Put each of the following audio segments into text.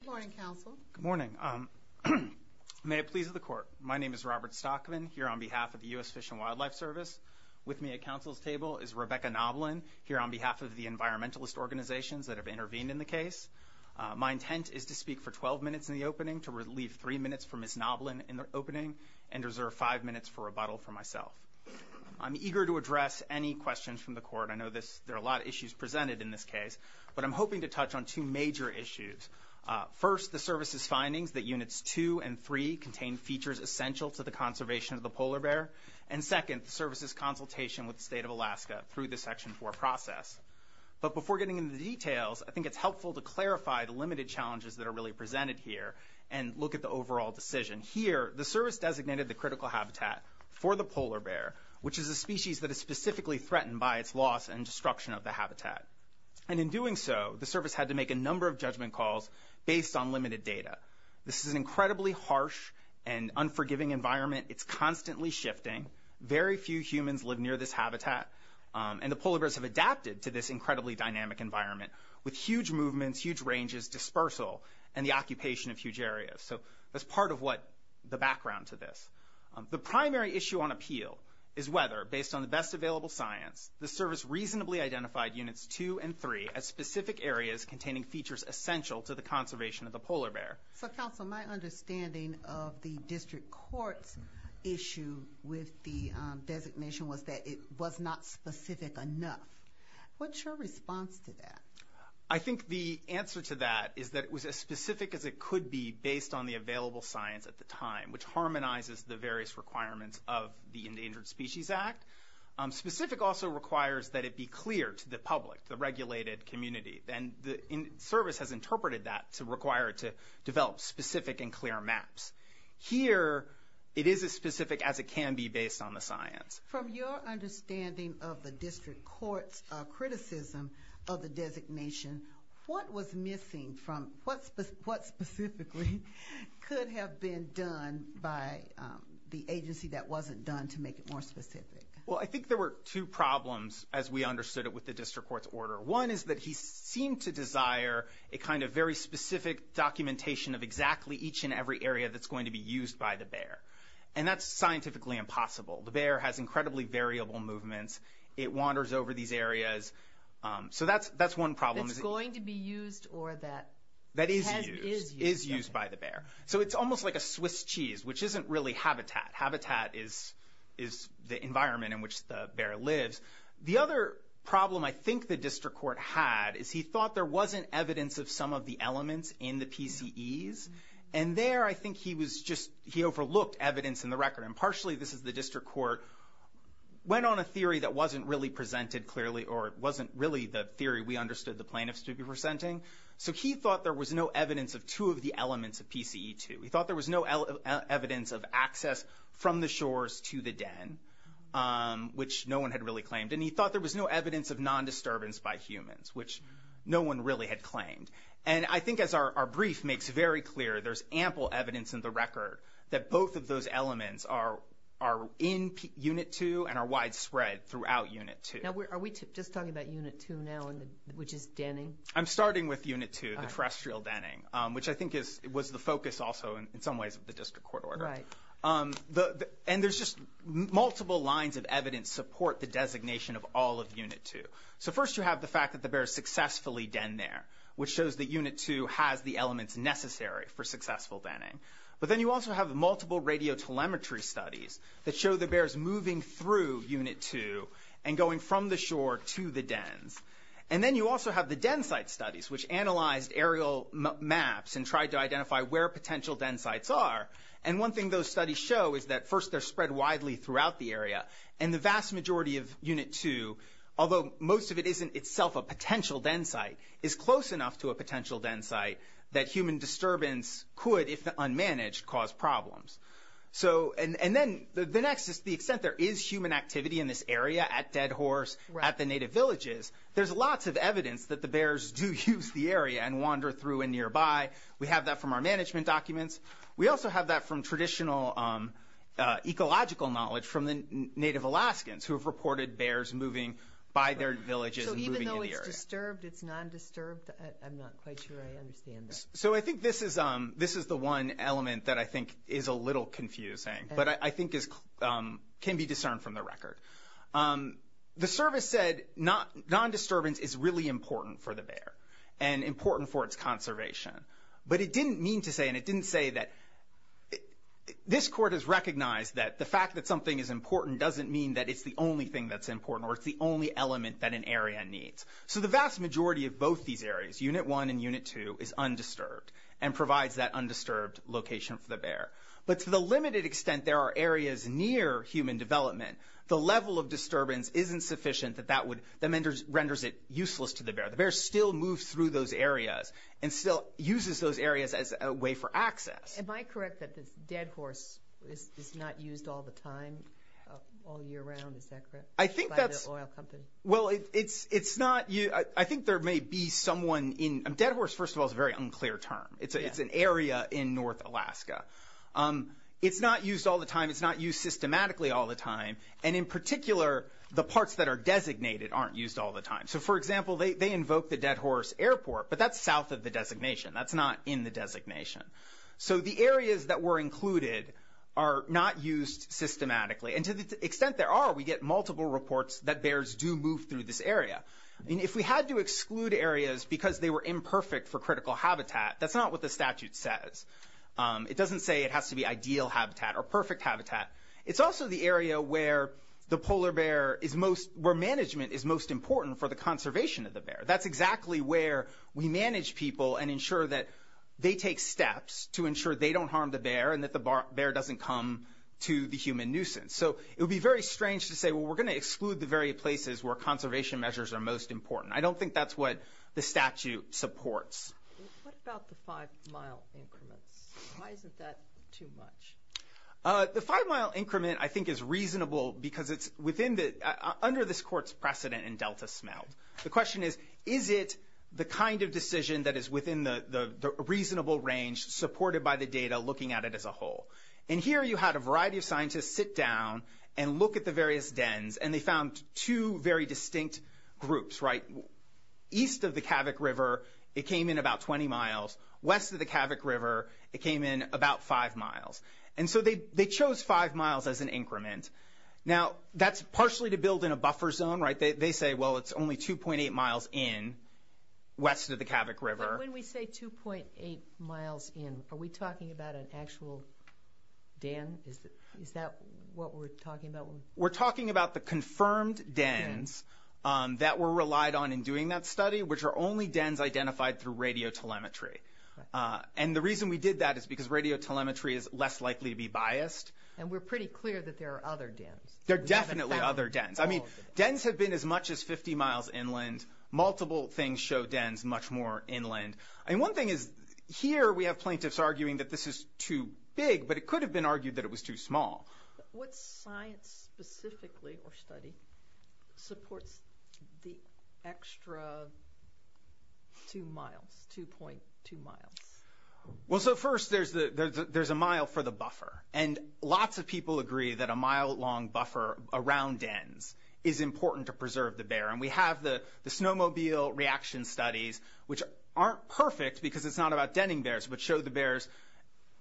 Good morning, counsel. Good morning. May it please the court, my name is Robert Stockman here on behalf of the U.S. Fish and Wildlife Service. With me at counsel's table is Rebecca Noblin here on behalf of the environmentalist organizations that have intervened in the case. My intent is to speak for 12 minutes in the opening to relieve three minutes for Ms. Noblin in the opening and reserve five minutes for rebuttal for myself. I'm eager to address any questions from the court. I know there are a lot of issues presented in this case, but I'm First, the service's findings that units two and three contain features essential to the conservation of the polar bear. And second, the service's consultation with the state of Alaska through the section four process. But before getting into the details, I think it's helpful to clarify the limited challenges that are really presented here and look at the overall decision. Here, the service designated the critical habitat for the polar bear, which is a species that is specifically threatened by its loss and destruction of the habitat. And in doing so, the service had to make a number of judgment calls based on limited data. This is an incredibly harsh and unforgiving environment. It's constantly shifting. Very few humans live near this habitat, and the polar bears have adapted to this incredibly dynamic environment with huge movements, huge ranges, dispersal and the occupation of huge areas. So that's part of what the background to this. The primary issue on appeal is whether, based on the best available science, the service reasonably identified units two and three as specific areas containing features essential to the conservation of the polar bear. So, counsel, my understanding of the district court's issue with the designation was that it was not specific enough. What's your response to that? I think the answer to that is that it was as specific as it could be based on the available science at the time, which harmonizes the various requirements of the Endangered Species Act. Specific also requires that it be clear to the regulated community, and the service has interpreted that to require it to develop specific and clear maps. Here, it is as specific as it can be based on the science. From your understanding of the district court's criticism of the designation, what was missing from... What specifically could have been done by the agency that wasn't done to make it more specific? Well, I think there were two problems, as we understood it with the district court's order. One is that he seemed to desire a kind of very specific documentation of exactly each and every area that's going to be used by the bear. And that's scientifically impossible. The bear has incredibly variable movements. It wanders over these areas. So that's one problem. That's going to be used or that... That is used, is used by the bear. So it's almost like a Swiss cheese, which isn't really habitat. Habitat is the environment in which the bear lives. The other problem I think the district court had is he thought there wasn't evidence of some of the elements in the PCEs. And there, I think he was just... He overlooked evidence in the record. And partially, this is the district court, went on a theory that wasn't really presented clearly, or it wasn't really the theory we understood the plaintiffs to be presenting. So he thought there was no evidence of two of the elements of PCE2. He thought there was no evidence of access from the shores to the den, which no one had really claimed. And he thought there was no evidence of non-disturbance by humans, which no one really had claimed. And I think as our brief makes very clear, there's ample evidence in the record that both of those elements are in Unit 2 and are widespread throughout Unit 2. Now, are we just talking about Unit 2 now, which is denning? I'm starting with Unit 2, the terrestrial denning, which I think was the focus also in some ways of the district court order. Right. And there's just multiple lines of evidence support the designation of all of Unit 2. So first, you have the fact that the bears successfully den there, which shows that Unit 2 has the elements necessary for successful denning. But then you also have multiple radio telemetry studies that show the bears moving through Unit 2 and going from the shore to the dens. And then you also have the den site studies, which analyzed aerial maps and tried to identify where potential den sites are. And one thing those studies show is that first they're spread widely throughout the area and the vast majority of Unit 2, although most of it isn't itself a potential den site, is close enough to a potential den site that human disturbance could, if unmanaged, cause problems. So, and then the next is the extent there is human activity in this area at Dead Horse, at the native villages. There's lots of evidence that the bears do use the area and wander through and nearby. We have that from our management documents. We also have that from traditional ecological knowledge from the native Alaskans who have reported bears moving by their villages and moving in the area. So even though it's disturbed, it's non-disturbed? I'm not quite sure I understand that. So I think this is the one element that I think is a little confusing, but I think can be discerned from the record. The service said non-disturbance is really important for the bear and important for its conservation. But it didn't mean to say, and it didn't say that, this court has recognized that the fact that something is important doesn't mean that it's the only thing that's important or it's the only element that an area needs. So the vast majority of both these areas, Unit 1 and Unit 2, is undisturbed and provides that undisturbed location for the bear. But to the limited extent there are areas near human development, the level of disturbance isn't sufficient that that would, that renders it useless to the bear. The bear still moves through those areas and still uses those areas as a way for access. Am I correct that the dead horse is not used all the time, all year round, is that correct? I think that's... By the oil company. Well, it's not, I think there may be someone in, dead horse, first of all, is a very unclear term. It's an area in North Alaska. It's not used all the time. It's not used systematically all the time. And in particular, the parts that are designated aren't used all the time. So for example, they invoke the dead horse airport, but that's south of the designation. That's not in the designation. So the areas that were included are not used systematically. And to the extent there are, we get multiple reports that bears do move through this area. And if we had to exclude areas because they were imperfect for critical habitat, that's not what the statute says. It doesn't say it has to be ideal habitat or perfect habitat. It's also the area where the polar bear is most, where management is most important for the conservation of the bear. That's exactly where we manage people and ensure that they take steps to ensure they don't harm the bear and that the bear doesn't come to the human nuisance. So it would be very strange to say, well, we're going to exclude the very places where conservation measures are most important. I don't think that's what the statute supports. What about the five mile increments? Why isn't that too much? The five mile increment, I think, is reasonable because it's within the, under this court's precedent in Delta smelt. The question is, is it the kind of decision that is within the reasonable range supported by the data looking at it as a whole? And here you had a variety of scientists sit down and look at the various dens, and they found two very distinct groups, right? East of the Kavik River, it came in about 20 miles. West of the Kavik River, it came in about five miles. And so they chose five miles as an increment. Now, that's partially to build in a buffer zone, right? They say, well, it's only 2.8 miles in west of the Kavik River. And when we say 2.8 miles in, are we talking about an actual den? Is that what we're talking about? We're talking about the confirmed dens that were relied on in doing that study, which are only dens identified through radio telemetry. And the reason we did that is because radio telemetry is less likely to be biased. And we're pretty clear that there are other dens. There are definitely other dens. I mean, dens have been as much as 50 miles inland. Multiple things show dens much more inland. And one thing is, here we have plaintiffs arguing that this is too big, but it could have been argued that it was too small. What science specifically or study supports the extra two miles, 2.2 miles? Well, so first there's a mile for the buffer. And lots of people agree that a mile-long buffer around dens is important to preserve the bear. And we have the snowmobile reaction studies, which aren't perfect because it's not about denning bears, but show the bears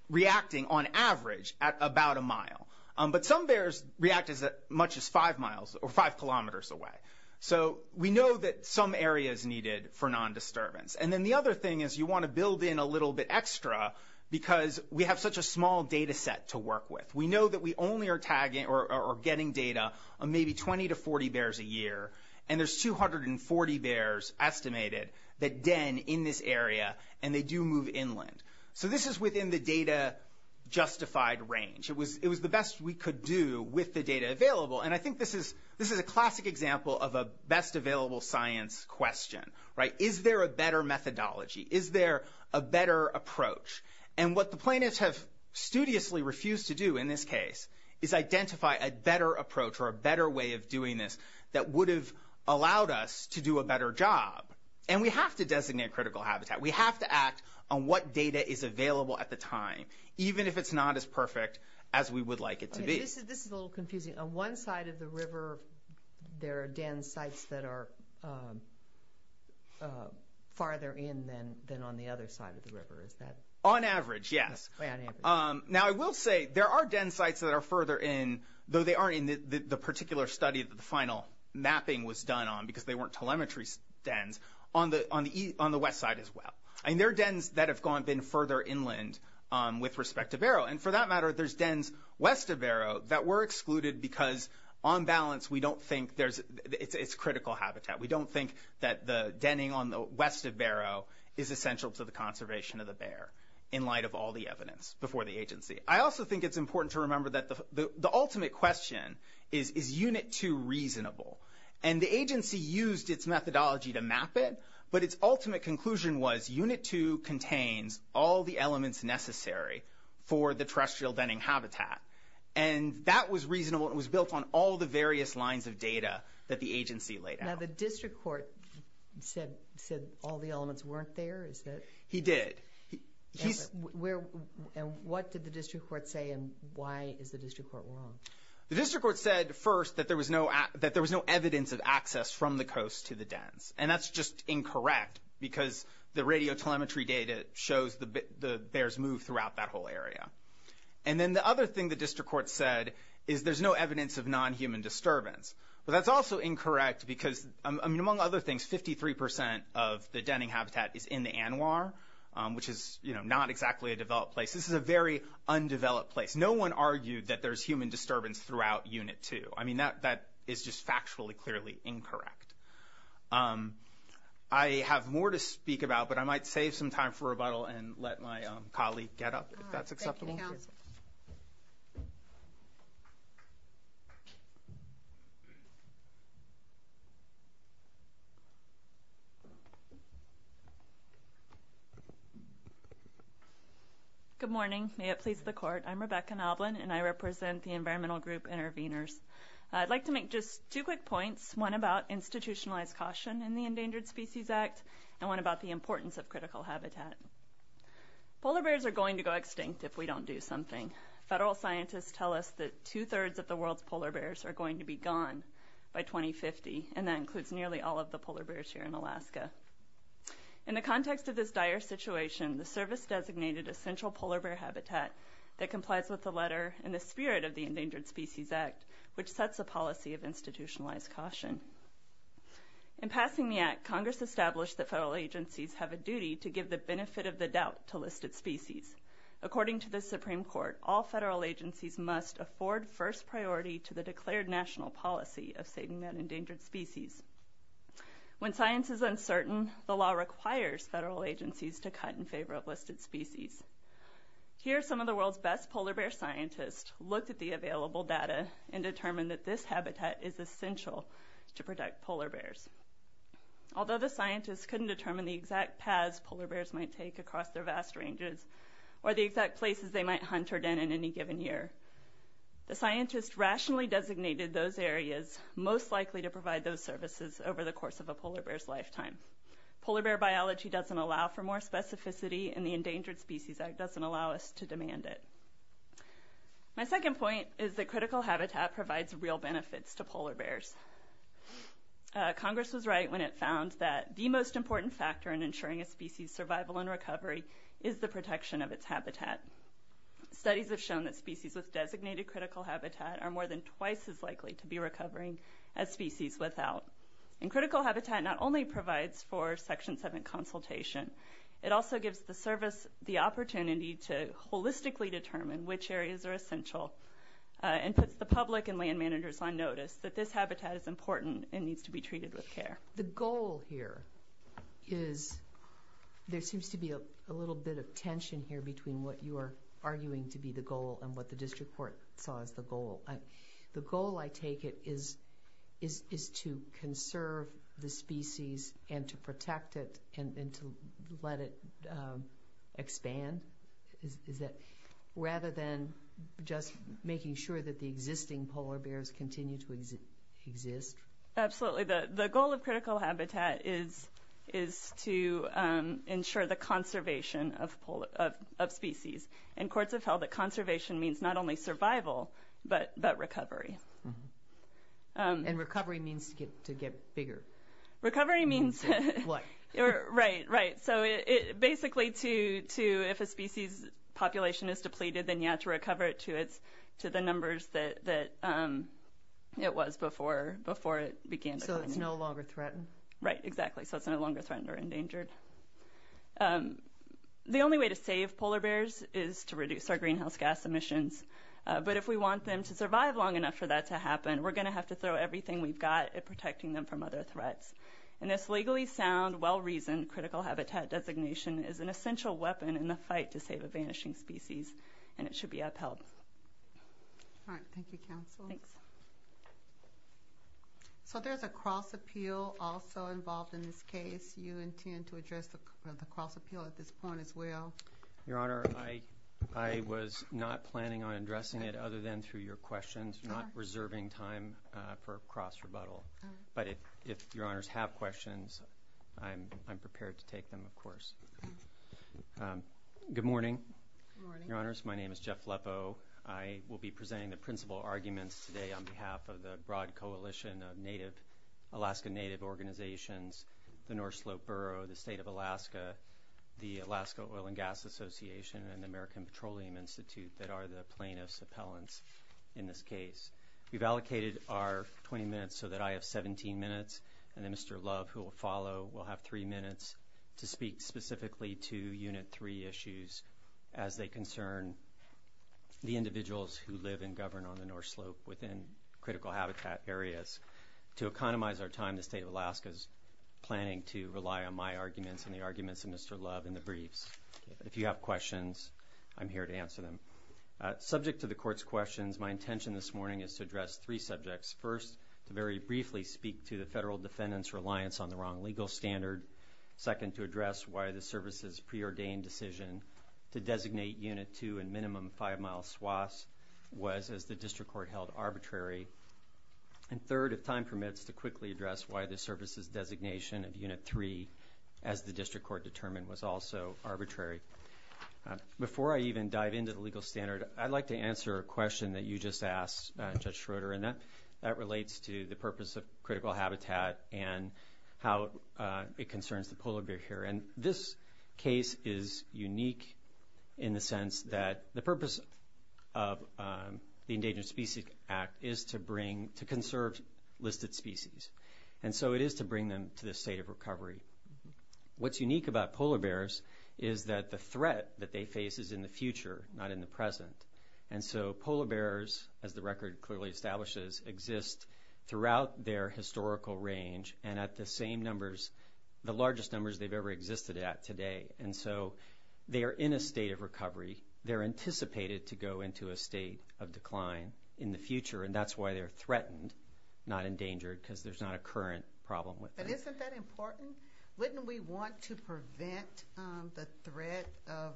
reacting on average at about a mile. But some bears react as much as five miles or five kilometers away. So we know that some area is needed for non-disturbance. And then the other thing is you want to build in a little bit extra because we have such a small data set to work with. We know that we only are tagging or getting data on maybe 20 to 40 bears a year. And there's 240 bears estimated that den in this area. And they do move inland. So this is within the data justified range. It was the best we could do with the data available. And I think this is a classic example of a best available science question, right? Is there a better methodology? Is there a better approach? And what the plaintiffs have studiously refused to do in this case is identify a better approach or a better way of doing this that would have allowed us to do a better job. And we have to designate critical habitat. We have to act on what data is available at the time, even if it's not as perfect as we would like it to be. This is a little confusing. On one side of the river, there are den sites that are farther in than on the other side of the river. On average, yes. Now, I will say there are den sites that are further in, though they aren't in the particular study that the final mapping was done on because they weren't telemetry dens, on the west side as well. And there are dens that have been further inland with respect to Barrow. And for that matter, there's dens west of Barrow that were excluded because on balance, we don't think there's...it's critical habitat. We don't think that the denning on the west of Barrow is essential to the conservation of the bear in light of all the evidence before the agency. I also think it's important to remember that the ultimate question is, is Unit 2 reasonable? And the agency used its methodology to map it, but its ultimate conclusion was Unit 2 contains all the elements necessary for the terrestrial denning habitat. And that was reasonable. It was built on all the various lines of data that the agency laid out. Now, the district court said all the elements weren't there, is that... He did. And what did the district court say and why is the district court wrong? The district court said first that there was no evidence of access from the coast to the dens. And that's just incorrect because the radio telemetry data shows the bears move throughout that whole area. And then the other thing the district court said is there's no evidence of non-human disturbance. But that's also incorrect because, I mean, among other things, 53 percent of the denning habitat is in the ANWR, which is not exactly a developed place. This is a very undeveloped place. No one argued that there's human disturbance throughout Unit 2. I mean, that is just factually, clearly incorrect. I have more to speak about, but I might save some time for rebuttal and let my colleague get up if that's acceptable. Good morning. May it please the court. I'm Rebecca Noblin and I represent the Environmental Group Intervenors. I'd like to make just two quick points, one about institutionalized caution in the Endangered Species Act and one about the importance of critical habitat. Polar bears are going to go extinct if we don't do something. Federal scientists tell us that two-thirds of the world's polar bears are going to be gone by 2050, and that includes nearly all of the polar bears here in Alaska. In the context of this dire situation, the service designated a central polar bear habitat that complies with the letter and the spirit of the Endangered Species Act, which sets a policy of institutionalized caution. In passing the act, Congress established that federal agencies have a duty to give the benefit of the doubt to listed species. According to the Supreme Court, all federal agencies must afford first priority to the declared national policy of saving that endangered species. When science is uncertain, the law requires federal agencies to cut in favor of listed species. Here, some of the world's best polar bear scientists looked at the available data and determined that this habitat is essential to protect polar bears. Although the scientists couldn't determine the exact paths polar bears might take across their vast ranges, or the exact places they might hunt or den in any given year, the scientists rationally designated those areas most likely to provide those services over the course of a polar bear's lifetime. Polar bear biology doesn't allow for more specificity and the Endangered Species Act doesn't allow us to demand it. My second point is that critical habitat provides real benefits to polar bears. Congress was right when it found that the most important factor in ensuring a species survival and recovery is the protection of its habitat. Studies have shown that species with designated critical habitat are more than twice as well. And critical habitat not only provides for Section 7 consultation, it also gives the service the opportunity to holistically determine which areas are essential and puts the public and land managers on notice that this habitat is important and needs to be treated with care. The goal here is, there seems to be a little bit of tension here between what you are arguing to be the goal and what the district court saw as the goal. The goal, I take it, is to conserve the species and to protect it and to let it expand? Is that rather than just making sure that the existing polar bears continue to exist? Absolutely. The goal of critical habitat is to ensure the conservation of species. And courts have held that conservation means not only survival, but recovery. And recovery means to get bigger? Recovery means... What? Right, right. So basically, if a species population is depleted, then you have to recover it to the numbers that it was before it began. So it's no longer threatened? Right, exactly. So it's no longer threatened or endangered. The only way to save polar bears is to reduce our greenhouse gas emissions. But if we want them to survive long enough for that to happen, we're going to have to throw everything we've got at protecting them from other threats. And this legally sound, well-reasoned critical habitat designation is an essential weapon in the fight to save a vanishing species. And it should be upheld. All right. Thank you, counsel. So there's a cross appeal also involved in this case. Do you intend to address the cross appeal at this point as well? Your Honor, I was not planning on addressing it other than through your questions. You're not reserving time for cross rebuttal. But if Your Honors have questions, I'm prepared to take them, of course. Good morning. Your Honors, my name is Jeff Leppo. I will be presenting the principal arguments today on behalf of the broad coalition of Alaska Native organizations, the North Slope Borough, the state of Alaska, the Alaska Oil and Gas Association, and the American Petroleum Institute that are the plaintiff's appellants in this case. We've allocated our 20 minutes so that I have 17 minutes and then Mr. Love, who will follow, will have three minutes to speak specifically to Unit 3 issues as they concern the individuals who live and govern on the North Slope within critical habitat areas. To economize our time, the state of Alaska is planning to rely on my arguments and the arguments of Mr. Love in the briefs. If you have questions, I'm here to answer them. Subject to the court's questions, my intention this morning is to address three subjects. First, to very briefly speak to the federal defendant's reliance on the wrong legal standard. Second, to address why the service's preordained decision to designate Unit 2 in minimum five-mile swaths was, as the district court held, arbitrary. And third, if time permits, to quickly address why the service's designation of Unit 3, as the district court determined, was also arbitrary. Before I even dive into the legal standard, I'd like to answer a question that you just asked, Judge Schroeder, and that relates to the purpose of critical habitat and how it concerns the polar bear here. And this case is unique in the sense that the purpose of the Endangered Species Act is to bring, to conserve listed species. And so it is to bring them to the state of recovery. What's unique about polar bears is that the threat that they face is in the future, not in the present. And so polar bears, as the record clearly establishes, exist throughout their today. And so they are in a state of recovery. They're anticipated to go into a state of decline in the future. And that's why they're threatened, not endangered, because there's not a current problem with that. Isn't that important? Wouldn't we want to prevent the threat of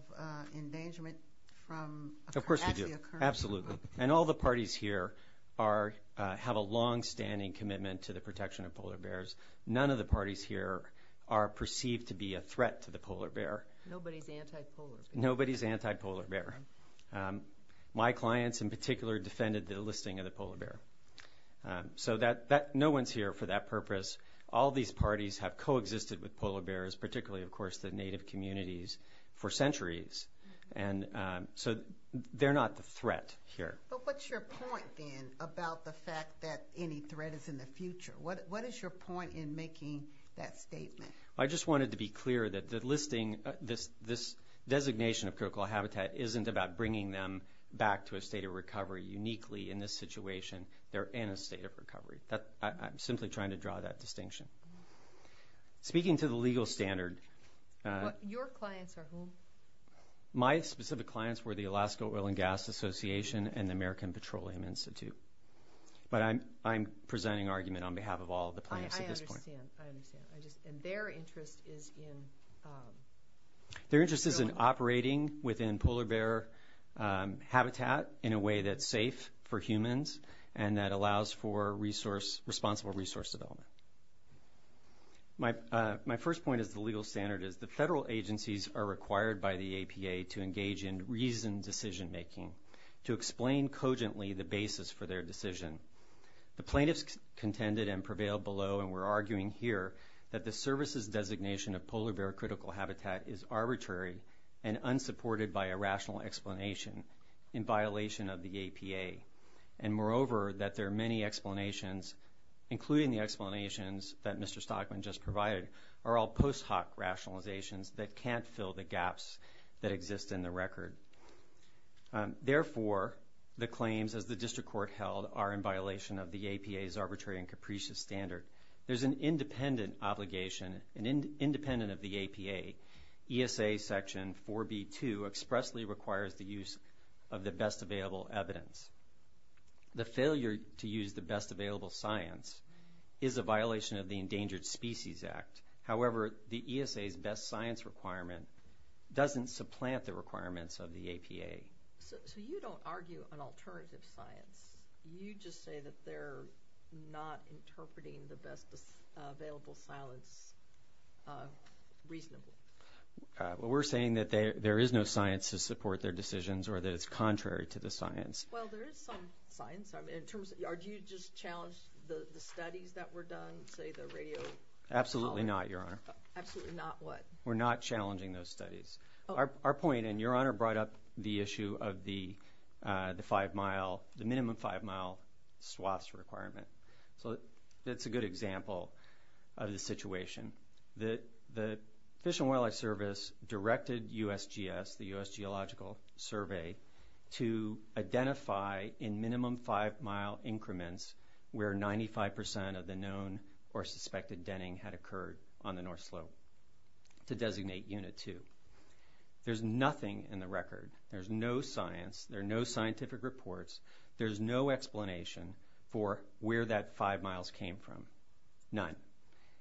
endangerment from actually occurring? Of course we do. Absolutely. And all the parties here have a longstanding commitment to the protection of polar bears. None of the parties here are perceived to be a threat to the polar bear. Nobody's anti-polar bear. Nobody's anti-polar bear. My clients in particular defended the listing of the polar bear. So no one's here for that purpose. All these parties have coexisted with polar bears, particularly, of course, the native communities, for centuries. And so they're not the threat here. But what's your point, then, about the fact that any threat is in the future? What is your point in making that statement? I just wanted to be clear that the listing, this designation of critical habitat, isn't about bringing them back to a state of recovery uniquely in this situation. They're in a state of recovery. I'm simply trying to draw that distinction. Speaking to the legal standard. Your clients are who? My specific clients were the Alaska Oil and Gas Association and the American Petroleum Institute. But I'm presenting argument on behalf of all of the clients at this point. I understand, I understand. And their interest is in? Their interest is in operating within polar bear habitat in a way that's safe for humans and that allows for responsible resource development. My first point is the legal standard is the federal agencies are required by the APA to explain cogently the basis for their decision. The plaintiffs contended and prevailed below and we're arguing here that the services designation of polar bear critical habitat is arbitrary and unsupported by a rational explanation in violation of the APA. And moreover, that there are many explanations, including the explanations that Mr. Stockman just provided, are all post hoc rationalizations that can't fill the gaps that exist in the record. Therefore, the claims as the district court held are in violation of the APA's arbitrary and capricious standard. There's an independent obligation and independent of the APA, ESA section 4B2 expressly requires the use of the best available evidence. The failure to use the best available science is a violation of the Endangered Species Act. However, the ESA's best science requirement doesn't supplant the requirements of the APA. So you don't argue an alternative science, you just say that they're not interpreting the best available science reasonably. Well, we're saying that there is no science to support their decisions or that it's contrary to the science. Well, there is some science in terms of, are you just challenged the studies that were done, say the radio? Absolutely not, Your Honor. Absolutely not what? We're not challenging those studies. Our point, and Your Honor brought up the issue of the five mile, the minimum five mile swaths requirement. So that's a good example of the situation. The Fish and Wildlife Service directed USGS, the US Geological Survey, to identify in where the 95 percent denning had occurred on the North Slope to designate Unit 2. There's nothing in the record. There's no science. There are no scientific reports. There's no explanation for where that five miles came from. None.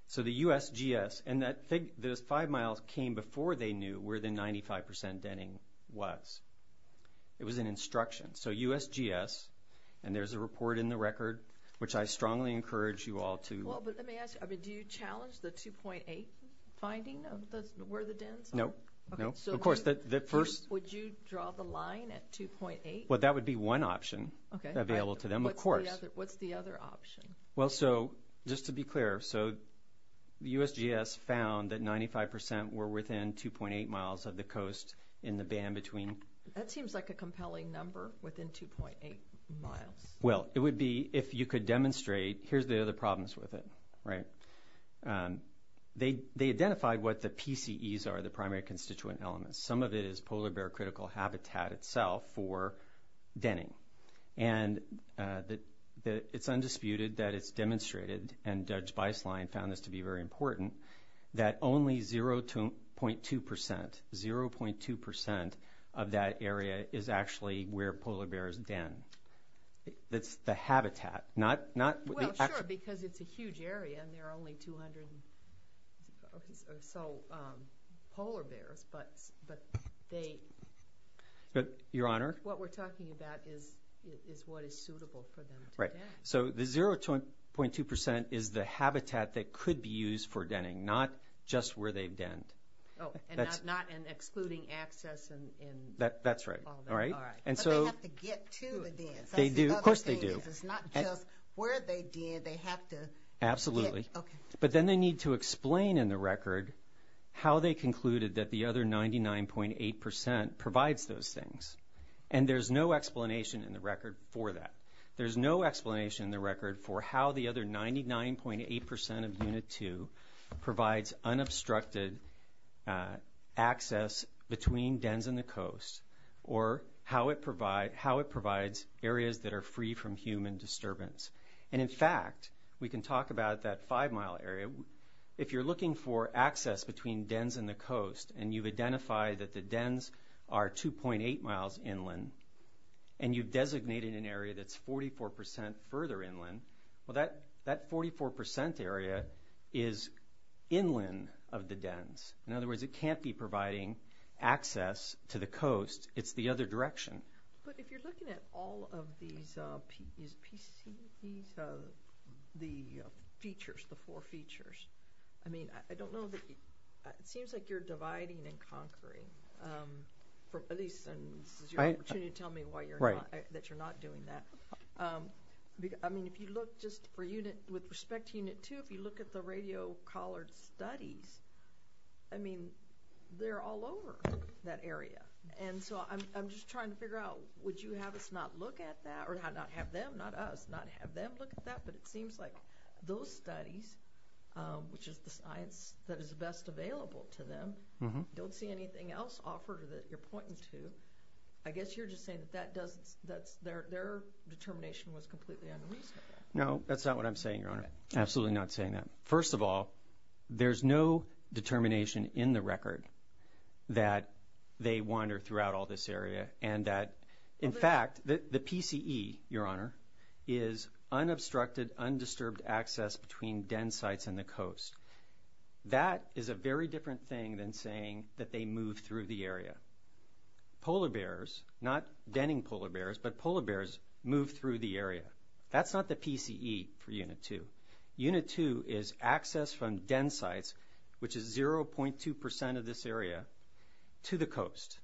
So the USGS, and those five miles came before they knew where the 95 percent denning was. It was an instruction. So USGS, and there's a report in the record, which I strongly encourage you all to... Well, but let me ask you, do you challenge the 2.8 finding of where the dens are? No, no. Of course, the first... Would you draw the line at 2.8? Well, that would be one option available to them, of course. What's the other option? Well, so just to be clear, so the USGS found that 95 percent were within 2.8 miles of the coast in the band between... That seems like a compelling number, within 2.8 miles. Well, it would be, if you could demonstrate... Here's the other problems with it, right? They identified what the PCEs are, the primary constituent elements. Some of it is polar bear critical habitat itself for denning. And it's undisputed that it's demonstrated, and Judge Beislein found this to be very important, that only 0.2 percent, 0.2 percent of that area is actually where polar bears den. That's the habitat, not... Well, sure, because it's a huge area and there are only 200 or so polar bears. But they... Your Honor? What we're talking about is what is suitable for them to den. So the 0.2 percent is the habitat that could be used for denning, not just where they've denned. Oh, and not in excluding access and all that. That's right. All right. All right. Do they have to get to the dens? They do. Of course they do. It's not just where they den, they have to... Absolutely. But then they need to explain in the record how they concluded that the other 99.8 percent provides those things. And there's no explanation in the record for that. There's no explanation in the record for how the other 99.8 percent of Unit 2 provides unobstructed access between dens and the coast, or how it provides areas that are free from human disturbance. And in fact, we can talk about that five mile area. If you're looking for access between dens and the coast, and you've identified that the dens are 2.8 miles inland, and you've designated an area that's 44 percent further inland of the dens. In other words, it can't be providing access to the coast. It's the other direction. But if you're looking at all of these, the features, the four features, I mean, I don't know that it seems like you're dividing and conquering, at least this is your opportunity to tell me why you're not, that you're not doing that. I mean, if you look just for unit, with respect to Unit 2, if you look at the radio collared studies, I mean, they're all over that area. And so I'm just trying to figure out, would you have us not look at that, or not have them, not us, not have them look at that. But it seems like those studies, which is the science that is best available to them, don't see anything else offered that you're pointing to. I guess you're just saying that that doesn't, that their determination was completely unreasonable. No, that's not what I'm saying, Your Honor. Absolutely not saying that. First of all, there's no determination in the record that they wander throughout all this area and that, in fact, the PCE, Your Honor, is unobstructed, undisturbed access between den sites and the coast. That is a very different thing than saying that they move through the area. Polar bears, not denning polar bears, but polar bears move through the area. That's not the PCE for Unit 2. Unit 2 is access from den sites, which is 0.2 percent of this area, to the coast.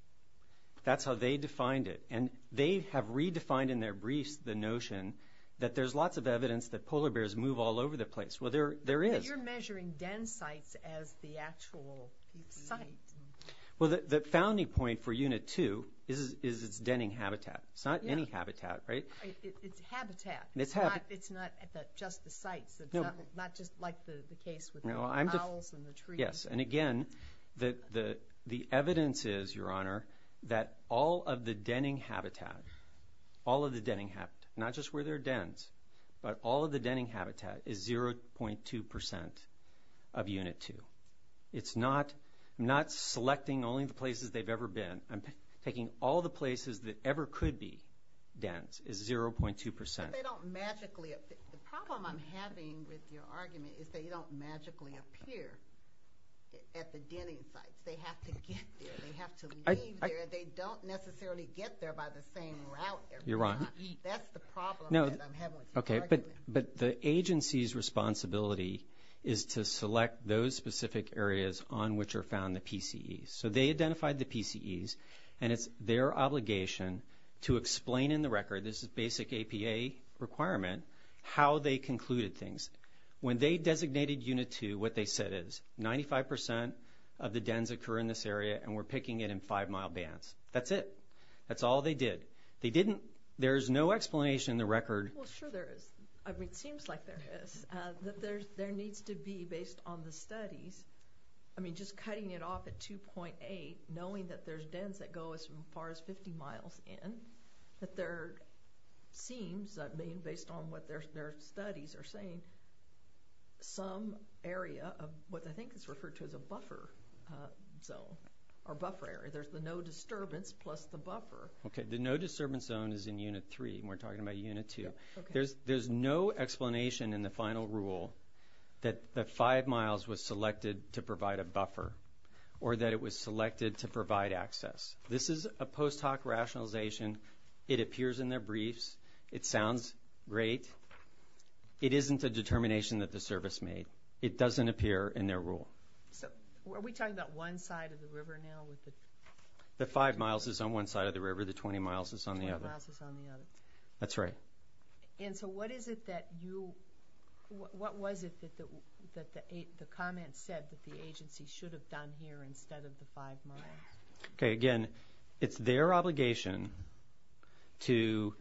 That's how they defined it. And they have redefined in their briefs the notion that there's lots of evidence that polar bears move all over the place. Well, there is. But you're measuring den sites as the actual site. Well, the founding point for Unit 2 is its denning habitat. It's not any habitat, right? It's habitat. It's not just the sites, it's not just like the case with the owls and the trees. Yes. And again, the evidence is, Your Honor, that all of the denning habitat, all of the denning habitat, not just where there are dens, but all of the denning habitat is 0.2 percent of Unit 2. It's not, I'm not selecting only the places they've ever been. I'm taking all the places that ever could be dens is 0.2 percent. But they don't magically, the problem I'm having with your argument is they don't magically appear at the denning sites. They have to get there, they have to leave there, and they don't necessarily get there by the same route every time. You're wrong. That's the problem that I'm having with your argument. But the agency's responsibility is to select those specific areas on which are found the PCEs. So they identified the PCEs, and it's their obligation to explain in the record, this is basic APA requirement, how they concluded things. When they designated Unit 2, what they said is 95 percent of the dens occur in this area, and we're picking it in five-mile bands. That's it. That's all they did. They didn't, there's no explanation in the record. Well, sure there is. I mean, it seems like there is. That there needs to be, based on the studies, I mean, just cutting it off at 2.8, knowing that there's dens that go as far as 50 miles in, that there seems, I mean, based on what their studies are saying, some area of what I think is referred to as a buffer zone, or buffer area. There's the no disturbance plus the buffer. Okay, the no disturbance zone is in Unit 3, and we're talking about Unit 2. There's no explanation in the final rule that the five miles was selected to provide a buffer, or that it was selected to provide access. This is a post hoc rationalization. It appears in their briefs. It sounds great. It isn't a determination that the service made. It doesn't appear in their rule. So, are we talking about one side of the river now with the? The five miles is on one side of the river. The 20 miles is on the other. The 20 miles is on the other. That's right. And so, what is it that you, what was it that the comment said that the agency should have done here instead of the five miles? Okay, again, it's their obligation to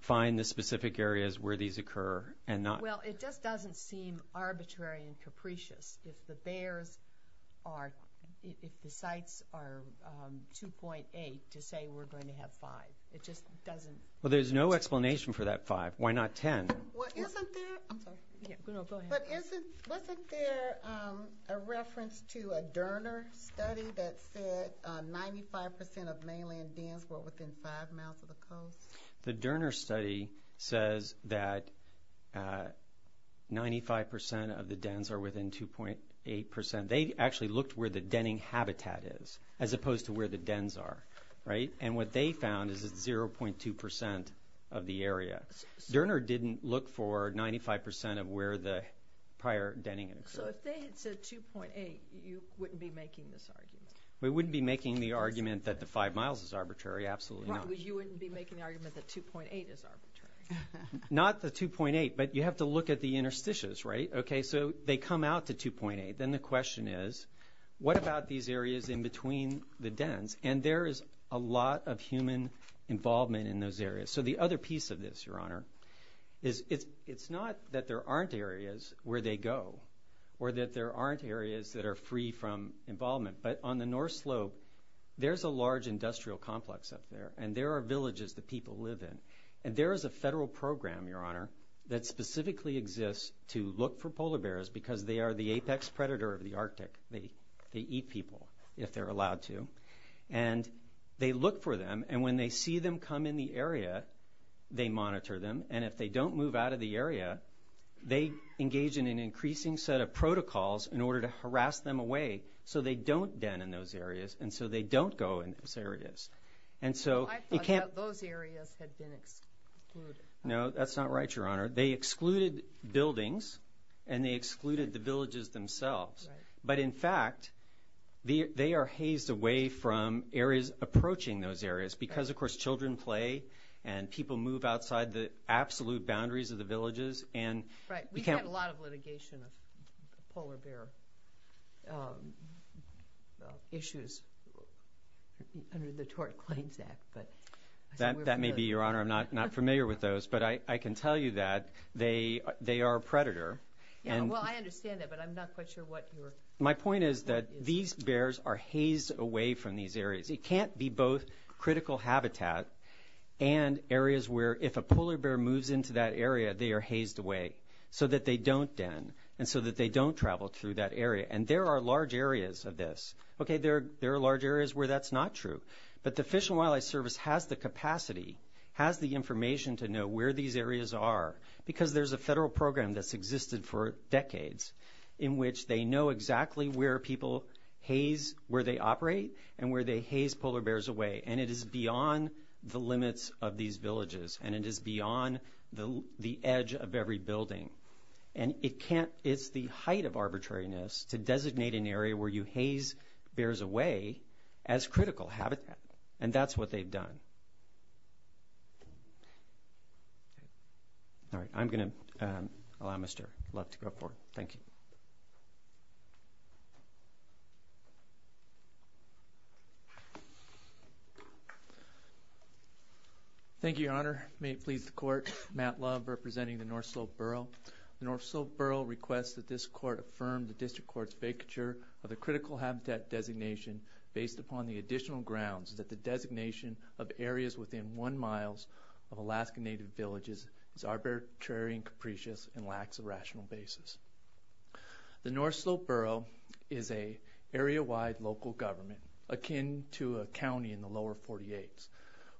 find the specific areas where these occur and not. Well, it just doesn't seem arbitrary and capricious. If the bears are, if the sites are 2.8 to say we're going to have five. It just doesn't. Well, there's no explanation for that five. Why not 10? Well, isn't there, I'm sorry. Yeah, go ahead. But isn't, wasn't there a reference to a Derner study that said 95% of mainland dens were within five miles of the coast? The Derner study says that 95% of the dens are within 2.8%. They actually looked where the denning habitat is as opposed to where the dens are. Right? And what they found is it's 0.2% of the area. Derner didn't look for 95% of where the prior denning had occurred. So if they had said 2.8, you wouldn't be making this argument? We wouldn't be making the argument that the five miles is arbitrary. Absolutely not. Right, but you wouldn't be making the argument that 2.8 is arbitrary. Not the 2.8, but you have to look at the interstitias, right? Okay, so they come out to 2.8. Then the question is, what about these areas in between the dens? And there is a lot of human involvement in those areas. So the other piece of this, Your Honor, is it's not that there aren't areas where they go or that there aren't areas that are free from involvement. But on the North Slope, there's a large industrial complex up there and there are villages that people live in. And there is a federal program, Your Honor, that specifically exists to look for polar bears because they are the apex predator of the Arctic. They eat people if they're allowed to. And they look for them. And when they see them come in the area, they monitor them. And if they don't move out of the area, they engage in an increasing set of protocols in order to harass them away so they don't den in those areas and so they don't go in those areas. And so you can't... I thought that those areas had been excluded. No, that's not right, Your Honor. They excluded buildings and they excluded the villages themselves. But in fact, they are hazed away from areas approaching those areas because, of course, children play and people move outside the absolute boundaries of the villages and... Right. We've had a lot of litigation of polar bear issues under the Tort Claims Act. But... That may be, Your Honor. I'm not familiar with those. But I can tell you that they are a predator. Yeah, well, I understand that, but I'm not quite sure what your... My point is that these bears are hazed away from these areas. It can't be both critical habitat and areas where if a polar bear moves into that area, they are hazed away so that they don't den and so that they don't travel through that area. And there are large areas of this. Okay, there are large areas where that's not true. But the Fish and Wildlife Service has the capacity, has the information to know where these areas are because there's a federal program that's existed for decades in which they know exactly where people haze where they operate and where they haze polar bears away. And it is beyond the limits of these villages. And it is beyond the edge of every building. And it can't... It's the height of arbitrariness to designate an area where you haze bears away as critical habitat. And that's what they've done. All right, I'm going to allow Mr. Love to go forward. Thank you. Thank you, Your Honor. May it please the court, Matt Love representing the North Slope Borough. The North Slope Borough requests that this court affirm the district court's vacature of the critical habitat designation based upon the additional grounds that the designation of areas within one miles of Alaska Native villages is arbitrary and capricious and lacks a rational basis. The North Slope Borough is a area-wide local government akin to a county in the lower 48s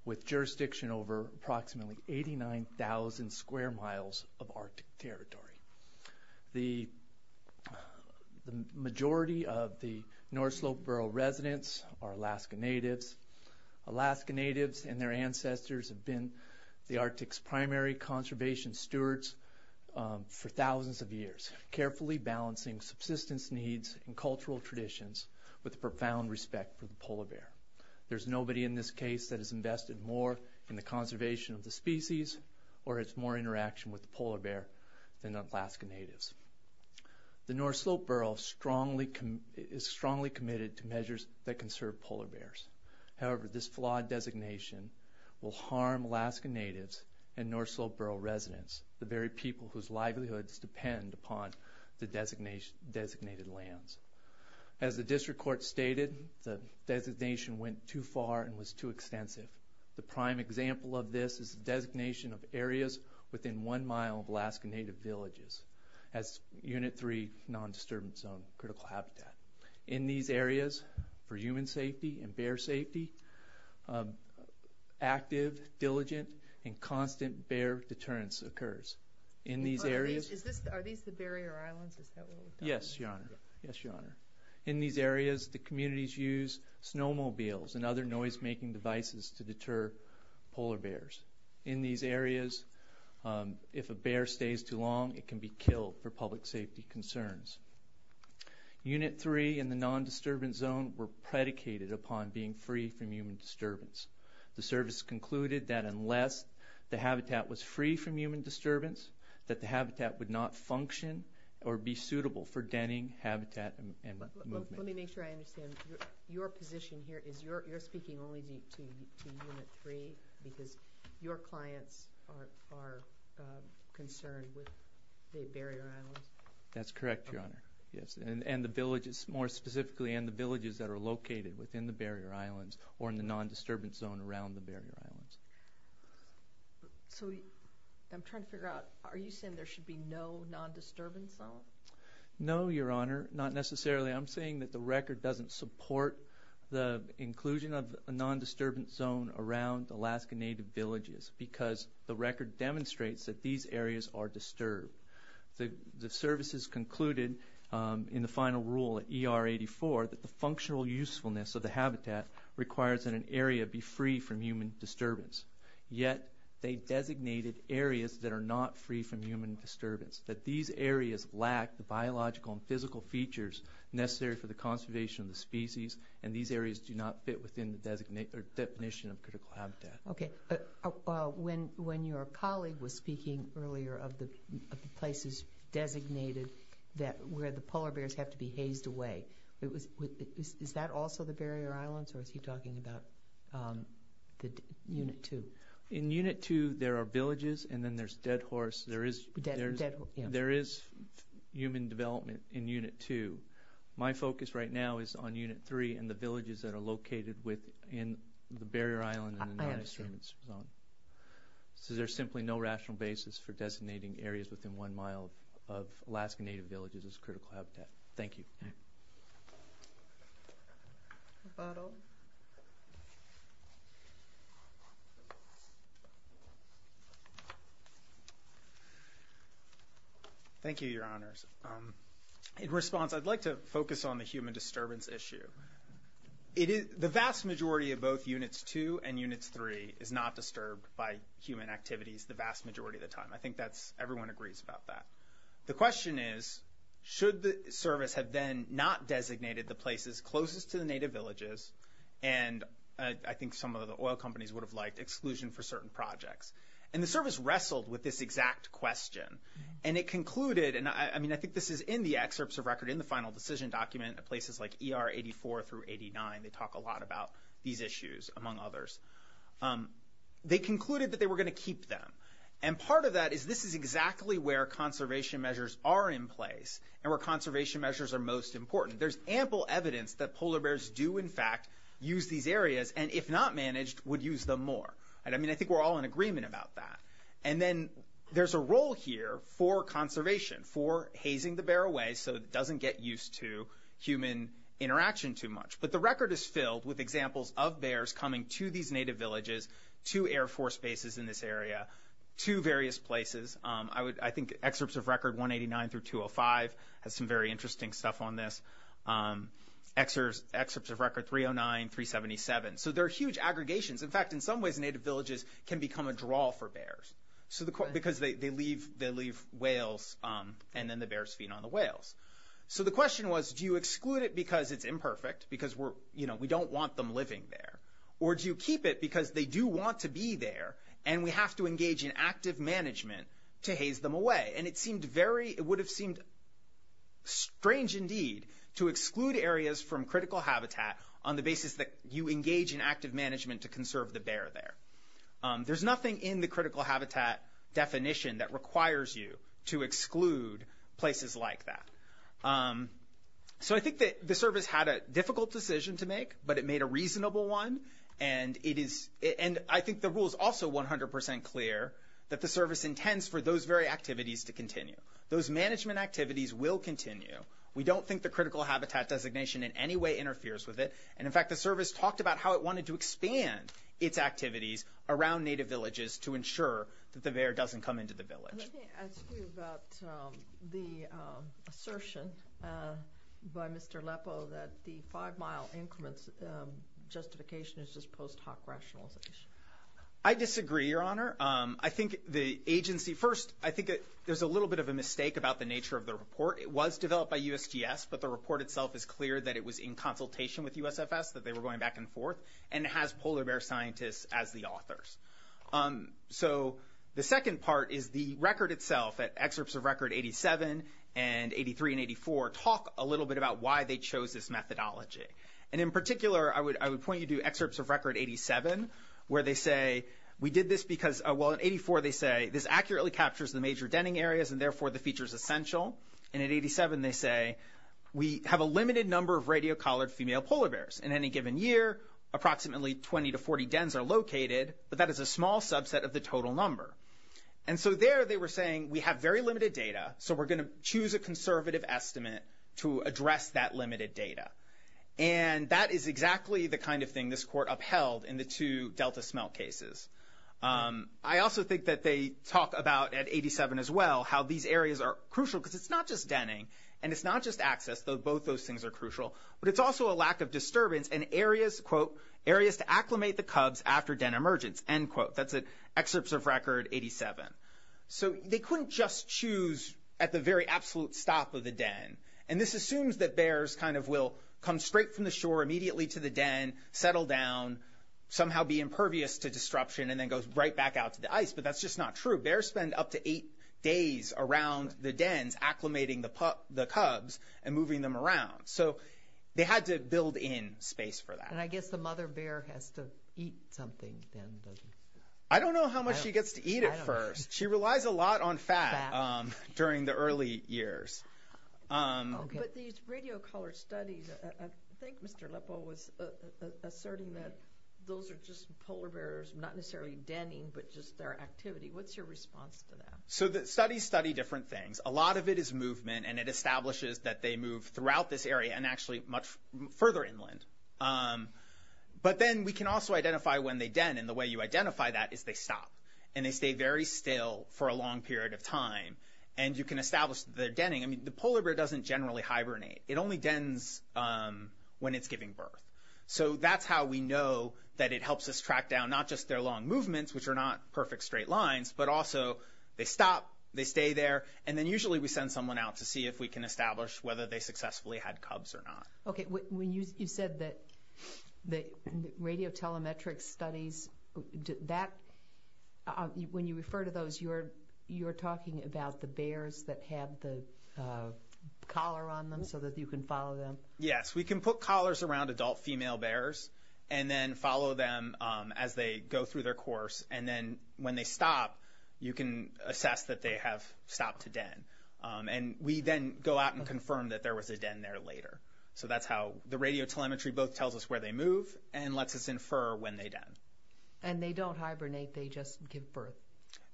with jurisdiction over approximately 89,000 square miles of Arctic territory. The majority of the North Slope Borough residents are Alaska Natives. Alaska Natives and their ancestors have been the Arctic's primary conservation stewards for thousands of years, carefully balancing subsistence needs and cultural traditions with profound respect for the polar bear. There's nobody in this case that has invested more in the conservation of the species or has more interaction with the polar bear than Alaska Natives. The North Slope Borough is strongly committed to measures that conserve polar bears. However, this flawed designation will harm Alaska Natives and North Slope Borough residents, the very people whose livelihoods depend upon the designated lands. As the district court stated, the designation went too far and was too extensive. The prime example of this is the designation of areas within one mile of Alaska Native villages as Unit 3 non-disturbance zone critical habitat. In these areas, for human safety and bear safety, active, diligent, and constant bear deterrence occurs. In these areas the communities use snowmobiles and other noise-making devices to deter polar bears. In these areas, if a bear stays too long, it can be killed for public safety concerns. Unit 3 and the non-disturbance zone were predicated upon being free from human disturbance. The service concluded that unless the habitat was free from human disturbance, that the habitat would not function or be suitable for denning, habitat, and movement. Let me make sure I understand. Your position here is you're speaking only to Unit 3 because your clients are concerned with the barrier islands? That's correct, Your Honor. Yes. And the villages, more specifically, and the villages that are located within the barrier islands or in the non-disturbance zone around the barrier islands. So I'm trying to figure out, are you saying there should be no non-disturbance zone? No, Your Honor, not necessarily. I'm saying that the record doesn't support the inclusion of a non-disturbance zone around Alaska Native villages because the record demonstrates that these areas are disturbed. The services concluded in the final rule at ER 84 that the functional usefulness of the habitat requires that an area be free from human disturbance. Yet they designated areas that are not free from human disturbance, that these areas lack the biological and physical features necessary for the conservation of the species, and these areas do not fit within the definition of critical habitat. Okay. When your colleague was speaking earlier of the places designated where the polar bears have to be hazed away, is that also the barrier islands or is he talking about Unit 2? In Unit 2, there are villages and then there's dead horse. There is human development in Unit 2. My focus right now is on Unit 3 and the villages that are located within the barrier island and the non-disturbance zone. So there's simply no rational basis for designating areas within one mile of Alaskan Native villages as critical habitat. Thank you. Thank you, Your Honors. In response, I'd like to focus on the human disturbance issue. The vast majority of both Units 2 and Units 3 is not disturbed by human activities the vast majority of the time. I think that's, everyone agrees about that. The question is, should the service have then not designated the places closest to the native villages, and I think some of the oil companies would have liked exclusion for certain projects. And the service wrestled with this exact question. And it concluded, and I mean, I think this is in the excerpts of record in the final decision document at places like ER 84 through 89. They talk a lot about these issues, among others. They concluded that they were going to keep them, and part of that is this is exactly where conservation measures are in place and where conservation measures are most important. There's ample evidence that polar bears do, in fact, use these areas, and if not managed, would use them more. And I mean, I think we're all in agreement about that. And then there's a role here for conservation, for hazing the bear away so it doesn't get used to human interaction too much. But the record is filled with examples of bears coming to these native villages, to Air Force bases in this area, to various places. I think excerpts of record 189 through 205 has some very interesting stuff on this. Excerpts of record 309, 377. So there are huge aggregations. In fact, in some ways, native villages can become a draw for bears. So because they leave whales, and then the bears feed on the whales. So the question was, do you exclude it because it's imperfect, because we don't want them living there? Or do you keep it because they do want to be there, and we have to engage in active management to haze them away? And it seemed very, it would have seemed strange indeed to exclude areas from critical habitat on the basis that you engage in active management to conserve the bear there. There's nothing in the critical habitat definition that requires you to exclude places like that. So I think that the service had a difficult decision to make, but it made a reasonable one. And it is, and I think the rule is also 100% clear that the service intends for those very activities to continue. Those management activities will continue. We don't think the critical habitat designation in any way interferes with it. And in fact, the service talked about how it wanted to expand its activities around native villages to ensure that the bear doesn't come into the village. I think it has to do about the assertion by Mr. Lepo that the five-mile increments justification is just post hoc rationalization. I disagree, Your Honor. I think the agency, first, I think there's a little bit of a mistake about the nature of the report. It was developed by USGS, but the report itself is clear that it was in consultation with USFS, that they were going back and forth, and it has polar bear scientists as the authors. So the second part is the record itself, that excerpts of record 87 and 83 and 84 talk a little bit about why they chose this methodology. And in particular, I would point you to excerpts of record 87 where they say, we did this because, well, in 84 they say, this accurately captures the major denning areas and therefore the feature is essential. And at 87 they say, we have a limited number of radio collared female polar bears. In any given year, approximately 20 to 40 dens are located, but that is a small subset of the total number. And so there they were saying, we have very limited data, so we're going to choose a conservative estimate to address that limited data. And that is exactly the kind of thing this court upheld in the two Delta smelt cases. I also think that they talk about, at 87 as well, how these areas are crucial because it's not just denning and it's not just access, though both those things are crucial, but it's also a lack of disturbance in areas, quote, areas to acclimate the cubs after den emergence, end quote. That's an excerpt of record 87. So they couldn't just choose at the very absolute stop of the den. And this assumes that bears kind of will come straight from the shore immediately to the den, settle down, somehow be impervious to disruption, and then go right back out to the ice. But that's just not true. Bears spend up to eight days around the dens acclimating the cubs and moving them around. So they had to build in space for that. And I guess the mother bear has to eat something then, doesn't she? I don't know how much she gets to eat at first. She relies a lot on fat during the early years. But these radio collar studies, I think Mr. Lippo was asserting that those are just polar bears, not necessarily denning, but just their activity. What's your response to that? So the studies study different things. A lot of it is movement. And it establishes that they move throughout this area and actually much further inland. But then we can also identify when they den. And the way you identify that is they stop. And they stay very still for a long period of time. And you can establish their denning. I mean, the polar bear doesn't generally hibernate. It only dens when it's giving birth. So that's how we know that it helps us track down not just their long movements, which are not perfect straight lines, but also they stop, they stay there. And then usually we send someone out to see if we can establish whether they successfully had cubs or not. Okay. When you said that the radio telemetric studies, that, when you refer to those, you're talking about the bears that have the collar on them so that you can follow them? Yes. We can put collars around adult female bears and then follow them as they go through their course, and then when they stop, you can assess that they have stopped to den. And we then go out and confirm that there was a den there later. So that's how the radio telemetry both tells us where they move and lets us infer when they den. And they don't hibernate. They just give birth.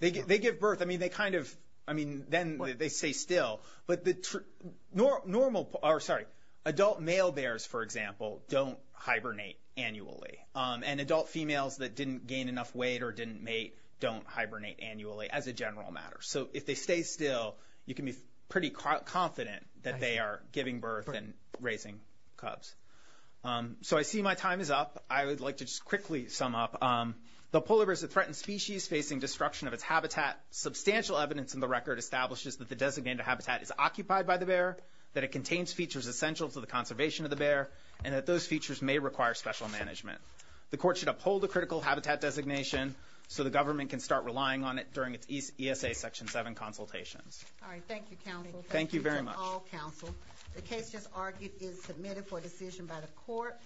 They give birth. I mean, they kind of, I mean, then they stay still. But the normal, or sorry, adult male bears, for example, don't hibernate annually. And adult females that didn't gain enough weight or didn't mate don't hibernate annually, as a general matter. So if they stay still, you can be pretty confident that they are giving birth and raising cubs. So I see my time is up. I would like to just quickly sum up. The polar bear is a threatened species facing destruction of its habitat. Substantial evidence in the record establishes that the designated habitat is occupied by the bear, that it contains features essential to the conservation of the bear, and that those features may require special management. The court should uphold the critical habitat designation so the government can start relying on it during its ESA Section 7 consultations. All right. Thank you, counsel. Thank you very much. Thank you to all counsel. The case just argued is submitted for decision by the court.